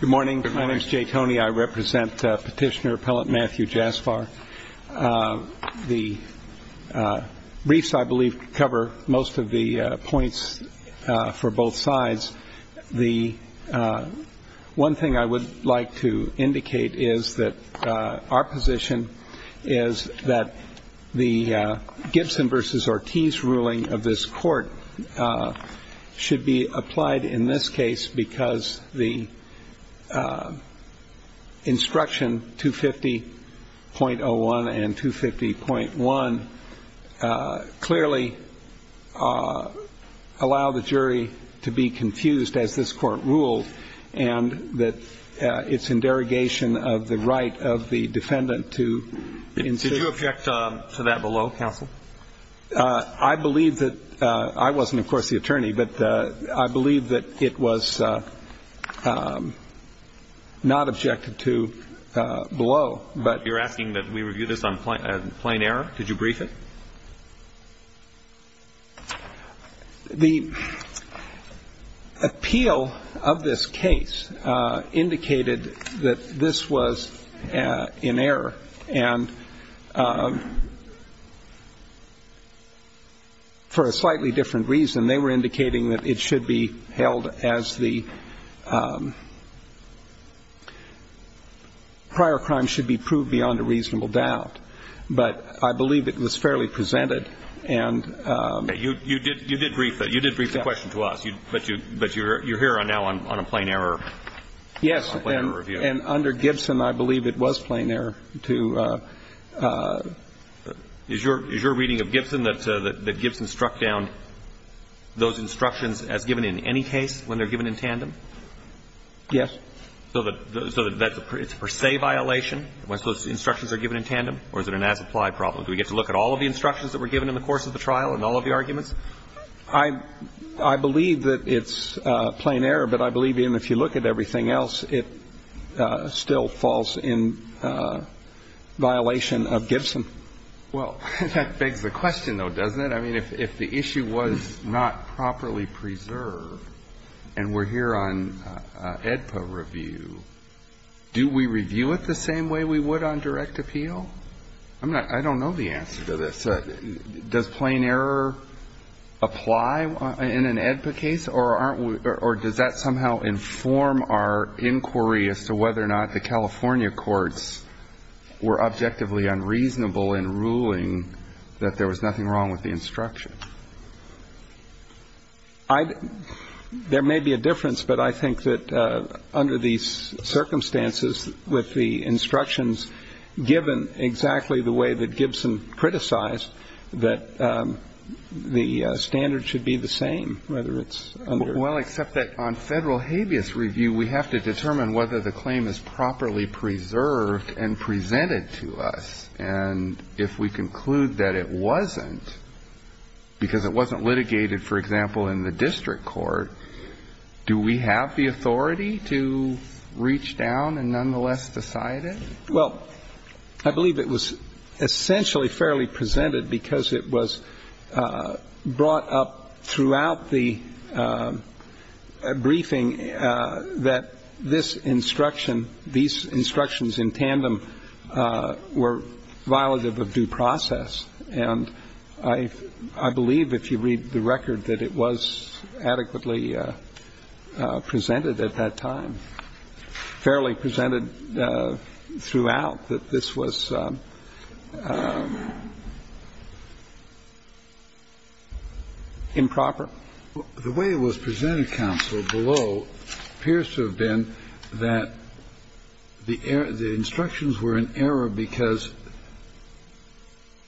Good morning. My name is Jay Toney. I represent Petitioner Appellant Matthew Jaspar. The briefs, I believe, cover most of the points for both sides. One thing I would like to indicate is that our position is that the Gibson v. Ortiz ruling of this court should be applied in this case because the instruction 250.01 and 250.1 clearly allow the jury to be confused, as this court ruled, and that it's in derogation of the right of the defendant to insist. I believe that – I wasn't, of course, the attorney – but I believe that it was not objected to below. You're asking that we review this on plain error? Did you brief it? The appeal of this case indicated that this was in error, and for a slightly different reason, they were indicating that it should be held as the prior crime should be proved beyond a reasonable doubt. But I believe it was fairly presented. You did brief the question to us, but you're here now on a plain error review. Yes. And under Gibson, I believe it was plain error to – Is your reading of Gibson that Gibson struck down those instructions as given in any case when they're given in tandem? Yes. So it's a per se violation once those instructions are given in tandem, or is it an as-applied problem? Do we get to look at all of the instructions that were given in the course of the trial and all of the arguments? I believe that it's plain error, but I believe even if you look at everything else, it still falls in violation of Gibson. Well, that begs the question, though, doesn't it? I mean, if the issue was not properly preserved, and we're here on AEDPA review, do we review it the same way we would on direct appeal? I don't know the answer to this. Does plain error apply in an AEDPA case, or does that somehow inform our inquiry as to whether or not the California courts were objectively unreasonable in ruling that there was nothing wrong with the instruction? There may be a difference, but I think that under these circumstances, with the instructions given exactly the way that Gibson criticized, that the standard should be the same, whether it's under or not. Well, except that on federal habeas review, we have to determine whether the claim is properly preserved and presented to us. And if we conclude that it wasn't, because it wasn't litigated, for example, in the district court, do we have the authority to reach down and nonetheless decide it? Well, I believe it was essentially fairly presented because it was brought up throughout the briefing that this instruction, these instructions in tandem were violative of due process. And I believe if you read the record, that it was adequately presented at that time, fairly presented throughout, that this was improper. The way it was presented, counsel, below appears to have been that the instructions were in error because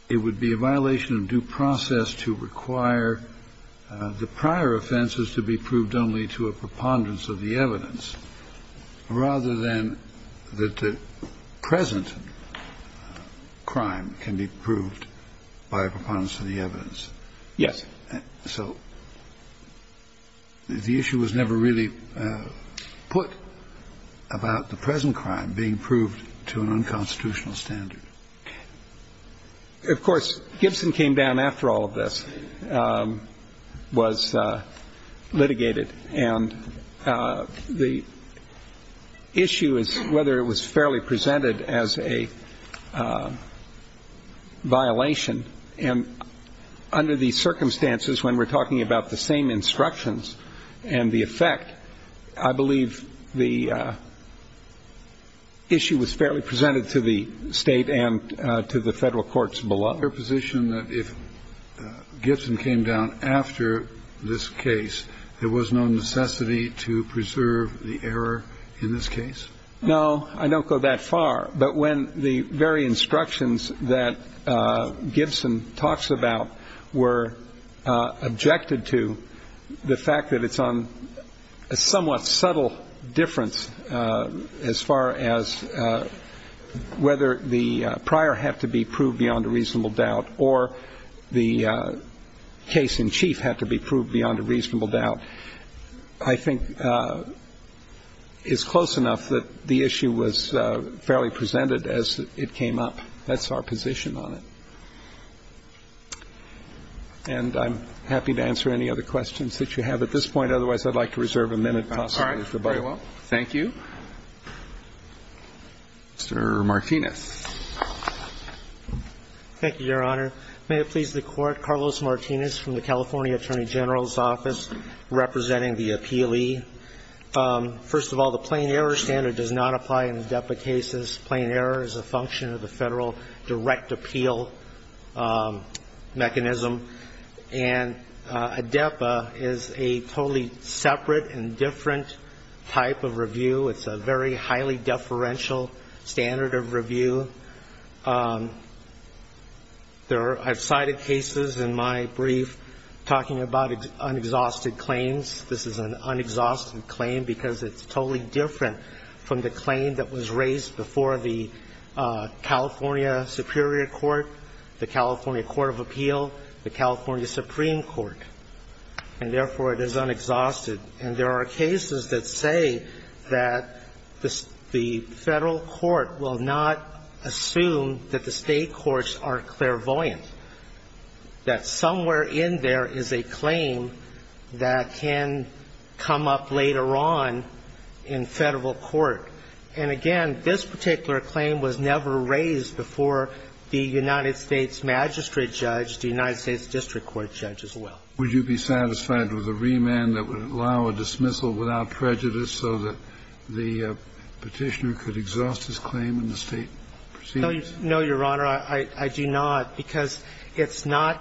it would be a violation of due process to require the prior offenses to be proved only to a preponderance of the evidence rather than that the present crime can be proved by a preponderance of the evidence. Yes. So the issue was never really put about the present crime being proved to an unconstitutional standard. Of course, Gibson came down after all of this, was litigated. And the issue is whether it was fairly presented as a violation. And under these circumstances, when we're talking about the same instructions and the effect, I believe the issue was fairly presented to the State and to the federal courts below. Is there a position that if Gibson came down after this case, there was no necessity to preserve the error in this case? No, I don't go that far. But when the very instructions that Gibson talks about were objected to, the fact that it's on a somewhat subtle difference as far as whether the prior had to be proved beyond a reasonable doubt or the case in chief had to be proved beyond a reasonable doubt, I think is close enough that the issue was fairly presented as it came up. That's our position on it. And I'm happy to answer any other questions that you have at this point. Otherwise, I'd like to reserve a minute, possibly, for both. All right. Very well. Thank you. Mr. Martinez. Thank you, Your Honor. May it please the Court, Carlos Martinez from the California Attorney General's Office representing the appealee. First of all, the plain error standard does not apply in ADEPA cases. Plain error is a function of the federal direct appeal mechanism. And ADEPA is a totally separate and different type of review. It's a very highly deferential standard of review. I've cited cases in my brief talking about unexhausted claims. This is an unexhausted claim because it's totally different from the claim that was raised before the California Superior Court, the California Court of Appeal, the California Supreme Court. And, therefore, it is unexhausted. And there are cases that say that the federal court will not assume that the state courts are clairvoyant, that somewhere in there is a claim that can come up later on in federal court. And, again, this particular claim was never raised before the United States magistrate judge, the United States district court judge as well. Would you be satisfied with a remand that would allow a dismissal without prejudice so that the Petitioner could exhaust his claim in the state proceedings? No, Your Honor. I do not, because it's not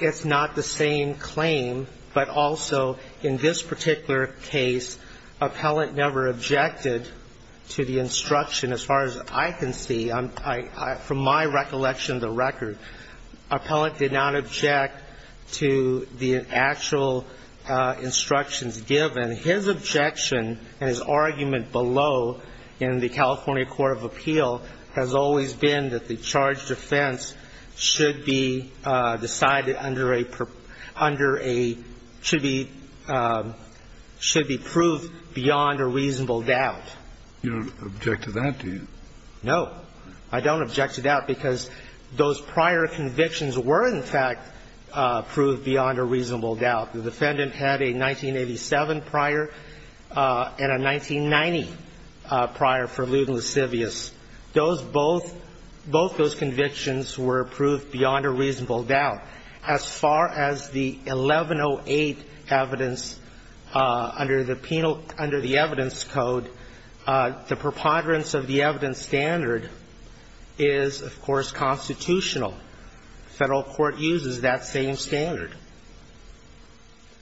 the same claim. But also, in this particular case, appellant never objected to the instruction as far as I can see. I'm – from my recollection of the record, appellant did not object to the actual instructions given. His objection and his argument below in the California Court of Appeal has always been that the charge defense should be decided under a – should be proved beyond a reasonable doubt. You don't object to that, do you? No. I don't object to that because those prior convictions were, in fact, proved beyond a reasonable doubt. The defendant had a 1987 prior and a 1990 prior for lewd and lascivious. Those both – both those convictions were proved beyond a reasonable doubt. As far as the 1108 evidence under the penal – under the evidence code, the preponderance of the evidence standard is, of course, constitutional. Federal court uses that same standard.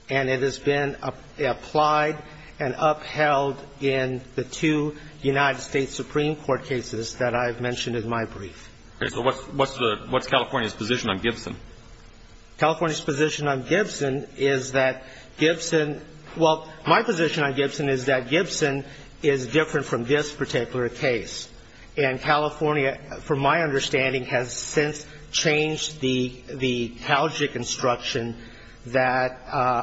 And it has been applied and upheld in the two United States Supreme Court cases that I've mentioned in my brief. Okay. So what's the – what's California's position on Gibson? California's position on Gibson is that Gibson – well, my position on Gibson is that it's an as-applied case. And California, from my understanding, has since changed the – the Calgic instruction that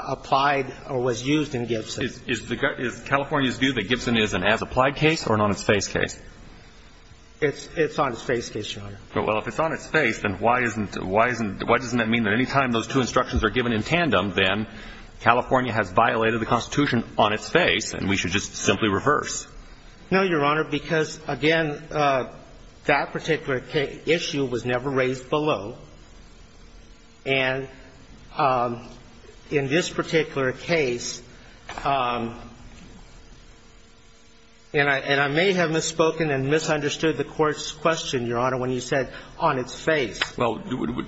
applied or was used in Gibson. Is the – is California's view that Gibson is an as-applied case or an on-its-face case? It's – it's on-its-face case, Your Honor. Well, if it's on-its-face, then why isn't – why isn't – why doesn't that mean that any time those two instructions are given in tandem, then California has violated the Constitution on its face and we should just simply reverse? No, Your Honor, because, again, that particular issue was never raised below. And in this particular case – and I may have misspoken and misunderstood the Court's question, Your Honor, when you said on its face. Well,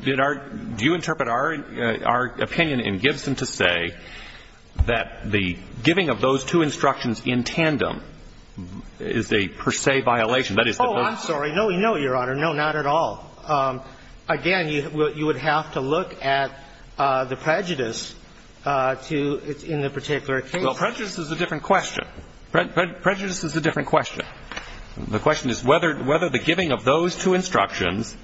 did our – do you interpret our opinion in Gibson to say that the giving of those two instructions in tandem is a per se violation? That is, that those – Oh, I'm sorry. No, no, Your Honor. No, not at all. Again, you would have to look at the prejudice to – in the particular case. Well, prejudice is a different question. Prejudice is a different question. The question is whether the giving of those two instructions,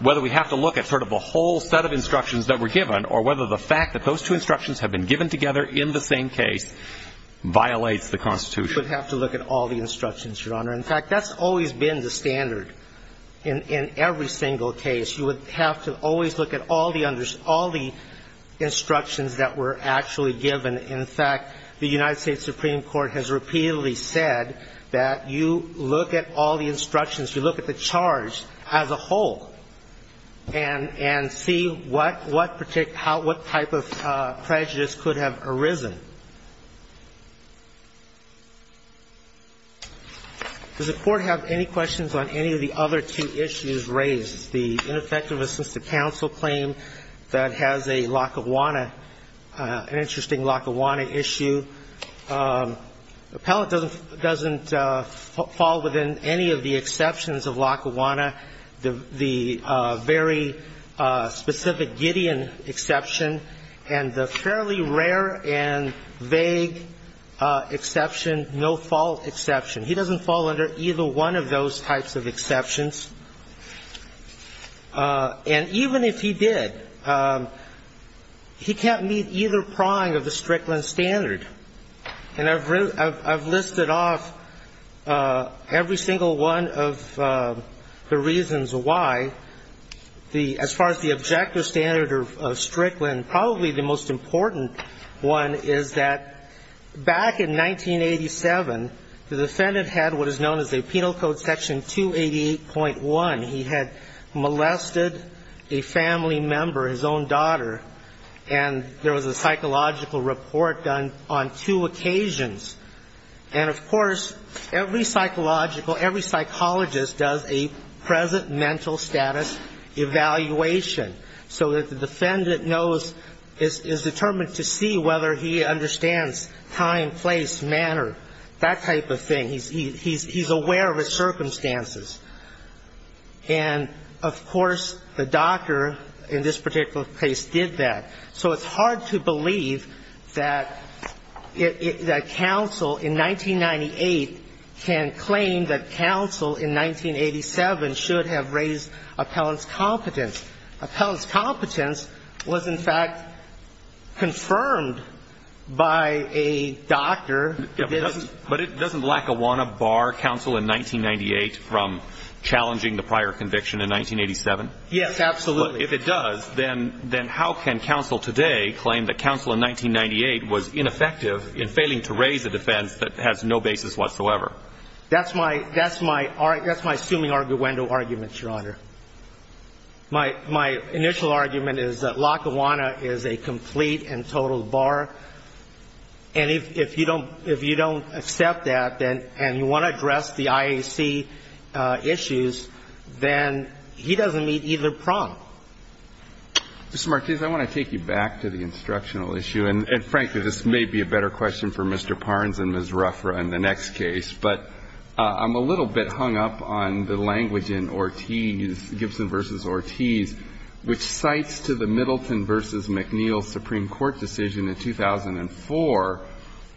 whether we have to look at sort of the whole set of instructions that were given or whether the fact that those two instructions have been given together in the same case violates the Constitution. You would have to look at all the instructions, Your Honor. In fact, that's always been the standard in every single case. You would have to always look at all the – all the instructions that were actually given. In fact, the United States Supreme Court has repeatedly said that you look at all the instructions, you look at the charge as a whole, and see what particular – what type of prejudice could have arisen. Does the Court have any questions on any of the other two issues raised? The ineffective assisted counsel claim that has a Lackawanna – an interesting Lackawanna issue. Appellant doesn't fall within any of the exceptions of Lackawanna. The very specific Gideon exception and the fairly rare and vague exception, no-fault exception. He doesn't fall under either one of those types of exceptions. And even if he did, he can't meet either prong of the Strickland standard. And I've listed off every single one of the reasons why. The – as far as the objective standard of Strickland, probably the most important one is that back in 1987, the defendant had what is known as a Penal Code Section 288.1. He had molested a family member, his own daughter, and there was a psychological report done on two occasions. And, of course, every psychological – every psychologist does a present mental evaluation. So that the defendant knows – is determined to see whether he understands time, place, manner, that type of thing. He's aware of his circumstances. And, of course, the doctor in this particular case did that. So it's hard to believe that counsel in 1998 can claim that counsel in 1987 should have raised appellant's competence. Appellant's competence was, in fact, confirmed by a doctor. But doesn't Lackawanna bar counsel in 1998 from challenging the prior conviction in 1987? Yes, absolutely. Well, if it does, then how can counsel today claim that counsel in 1998 was ineffective in failing to raise a defense that has no basis whatsoever? That's my – that's my – that's my assuming arguendo argument, Your Honor. My – my initial argument is that Lackawanna is a complete and total bar. And if you don't – if you don't accept that, then – and you want to address the IAC issues, then he doesn't meet either prompt. Mr. Martinez, I want to take you back to the instructional issue. And, frankly, this may be a better question for Mr. Parnes and Ms. Ruffra in the next case, but I'm a little bit hung up on the language in Ortiz, Gibson v. Ortiz, which cites to the Middleton v. McNeil Supreme Court decision in 2004,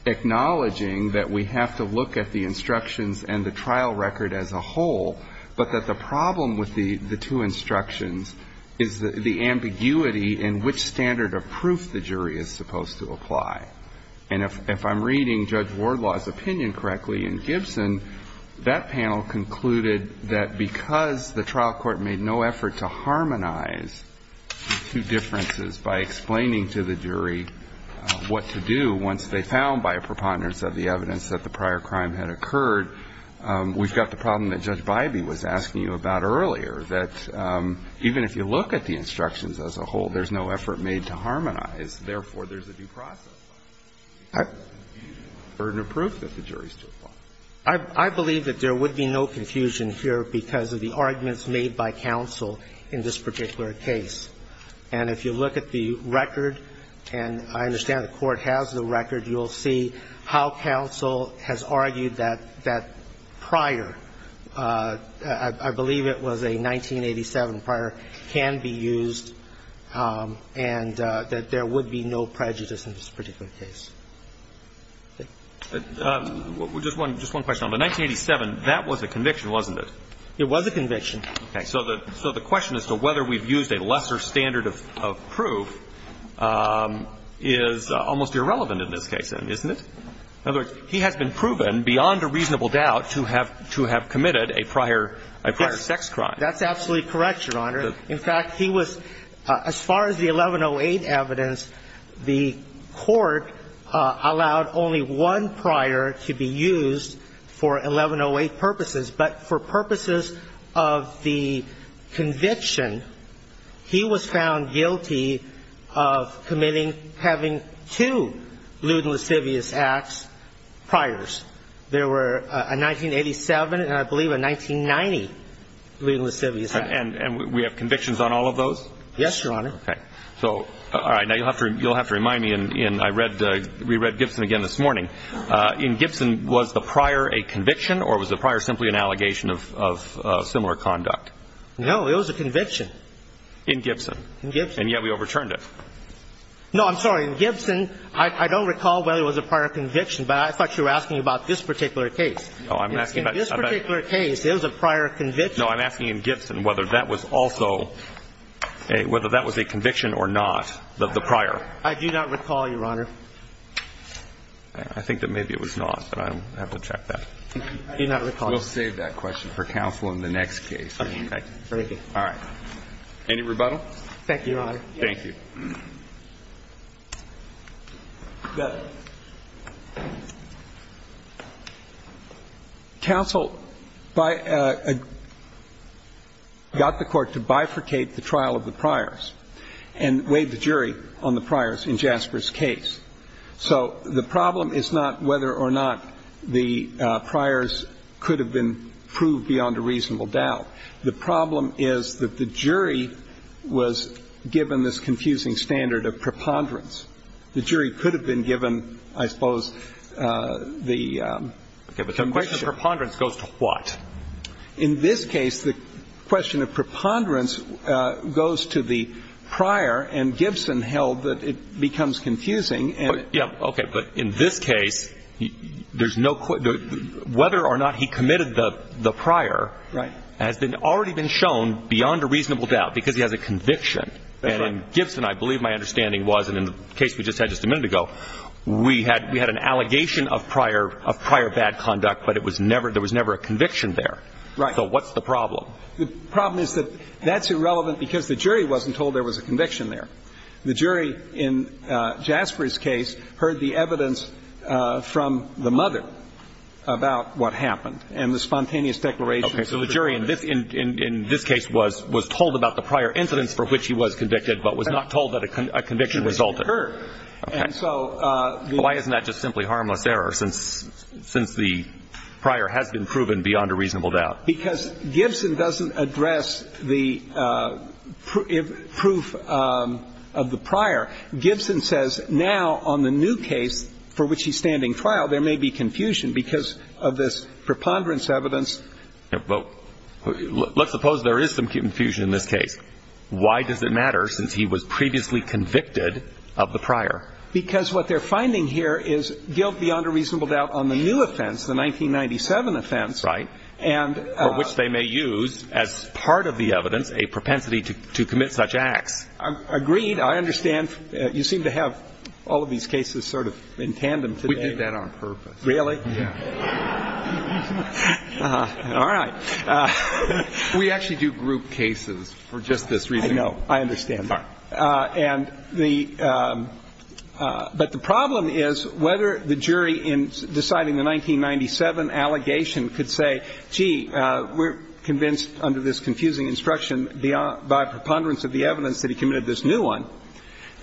acknowledging that we have to look at the instructions and the trial record as a whole, but that the problem with the – the two instructions is the ambiguity in which standard of proof the jury is supposed to apply. And if – if I'm reading Judge Wardlaw's opinion correctly in Gibson, that panel concluded that because the trial court made no effort to harmonize the two differences by explaining to the jury what to do once they found by a preponderance of the evidence that the prior crime had occurred, we've got the problem that Judge Bybee was asking you about earlier, that even if you look at the instructions as a whole, there's no effort made to harmonize, therefore, there's a due process. It's a burden of proof that the jury is to apply. I believe that there would be no confusion here because of the arguments made by counsel in this particular case. And if you look at the record, and I understand the Court has the record, you will see how counsel has argued that that prior – I believe it was a 1987 prior – can be used and that there would be no prejudice in this particular case. Thank you. But just one – just one question. On the 1987, that was a conviction, wasn't it? It was a conviction. Okay. So the – so the question as to whether we've used a lesser standard of – of proof is almost irrelevant in this case, isn't it? In other words, he has been proven beyond a reasonable doubt to have – to have committed a prior – a prior sex crime. Yes. That's absolutely correct, Your Honor. In fact, he was – as far as the 1108 evidence, the Court allowed only one prior to be used for 1108 purposes. But for purposes of the conviction, he was found guilty of committing – having two lewd and lascivious acts, priors. There were a 1987 and I believe a 1990 lewd and lascivious act. And we have convictions on all of those? Yes, Your Honor. Okay. So – all right. Now, you'll have to – you'll have to remind me in – I read – we read Gibson again this morning. In Gibson, was the prior a conviction or was the prior simply an allegation of – of similar conduct? No. It was a conviction. In Gibson. In Gibson. And yet we overturned it. No, I'm sorry. In Gibson, I don't recall whether it was a prior conviction, but I thought you were asking about this particular case. Oh, I'm asking about – In this particular case, it was a prior conviction. No, I'm asking in Gibson whether that was also a – whether that was a conviction or not, the prior. I do not recall, Your Honor. I think that maybe it was not, but I'll have to check that. I do not recall. We'll save that question for counsel in the next case. Okay. Thank you. All right. Any rebuttal? Thank you, Your Honor. Thank you. Counsel got the court to bifurcate the trial of the priors and weighed the jury on the priors in Jasper's case. So the problem is not whether or not the priors could have been proved beyond a reasonable doubt. The problem is that the jury was given this confusing standard of preponderance. The jury could have been given, I suppose, the – Okay. But the question of preponderance goes to what? In this case, the question of preponderance goes to the prior, and Gibson held that it becomes confusing. Yeah. Okay. But in this case, there's no – whether or not he committed the prior – Right. Has already been shown beyond a reasonable doubt because he has a conviction. That's right. And Gibson, I believe my understanding was, and in the case we just had just a minute ago, we had an allegation of prior bad conduct, but it was never – there was never a conviction there. Right. So what's the problem? The problem is that that's irrelevant because the jury wasn't told there was a conviction there. The jury in Jasper's case heard the evidence from the mother about what happened and the spontaneous declaration. Okay. So the jury in this case was told about the prior incidents for which he was convicted but was not told that a conviction resulted. Okay. And so the – Why isn't that just simply harmless error since the prior has been proven beyond a reasonable doubt? Because Gibson doesn't address the proof of the prior. Gibson says now on the new case for which he's standing trial, there may be confusion because of this preponderance evidence. Well, let's suppose there is some confusion in this case. Why does it matter since he was previously convicted of the prior? Because what they're finding here is guilt beyond a reasonable doubt on the new offense, the 1997 offense. Right. And – For which they may use as part of the evidence a propensity to commit such acts. Agreed. I understand you seem to have all of these cases sort of in tandem today. We did that on purpose. Really? Yeah. All right. We actually do group cases for just this reason. I know. I understand that. And the – but the problem is whether the jury in deciding the 1997 allegation could say, gee, we're convinced under this confusing instruction by preponderance of the evidence that he committed this new one,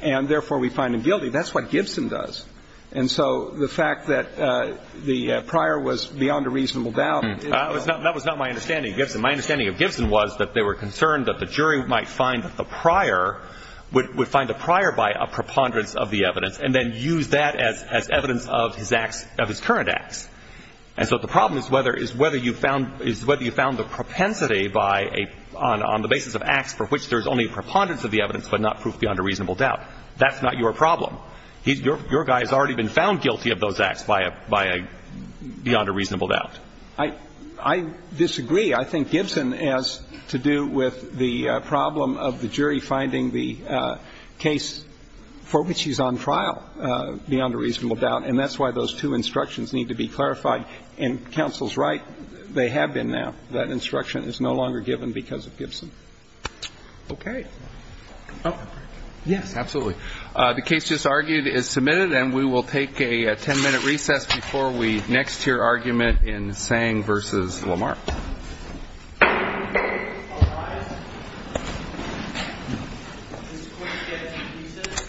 and therefore we find him guilty. That's what Gibson does. And so the fact that the prior was beyond a reasonable doubt is – That was not my understanding of Gibson. My understanding of Gibson was that they were concerned that the jury might find that the prior would find the prior by a preponderance of the evidence, and then use that as evidence of his acts – of his current acts. And so the problem is whether you found – is whether you found the propensity by a – on the basis of acts for which there's only preponderance of the evidence but not proof beyond a reasonable doubt. That's not your problem. Your guy has already been found guilty of those acts by a – beyond a reasonable doubt. I disagree. I think Gibson has to do with the problem of the jury finding the case for which he's on trial beyond a reasonable doubt. And that's why those two instructions need to be clarified. And counsel's right. They have been now. That instruction is no longer given because of Gibson. Okay. Yes, absolutely. The case just argued is submitted. And we will take a ten-minute recess before we next hear argument in Tsang v. Lamar. All rise. This court is getting a recess. The court is adjourned.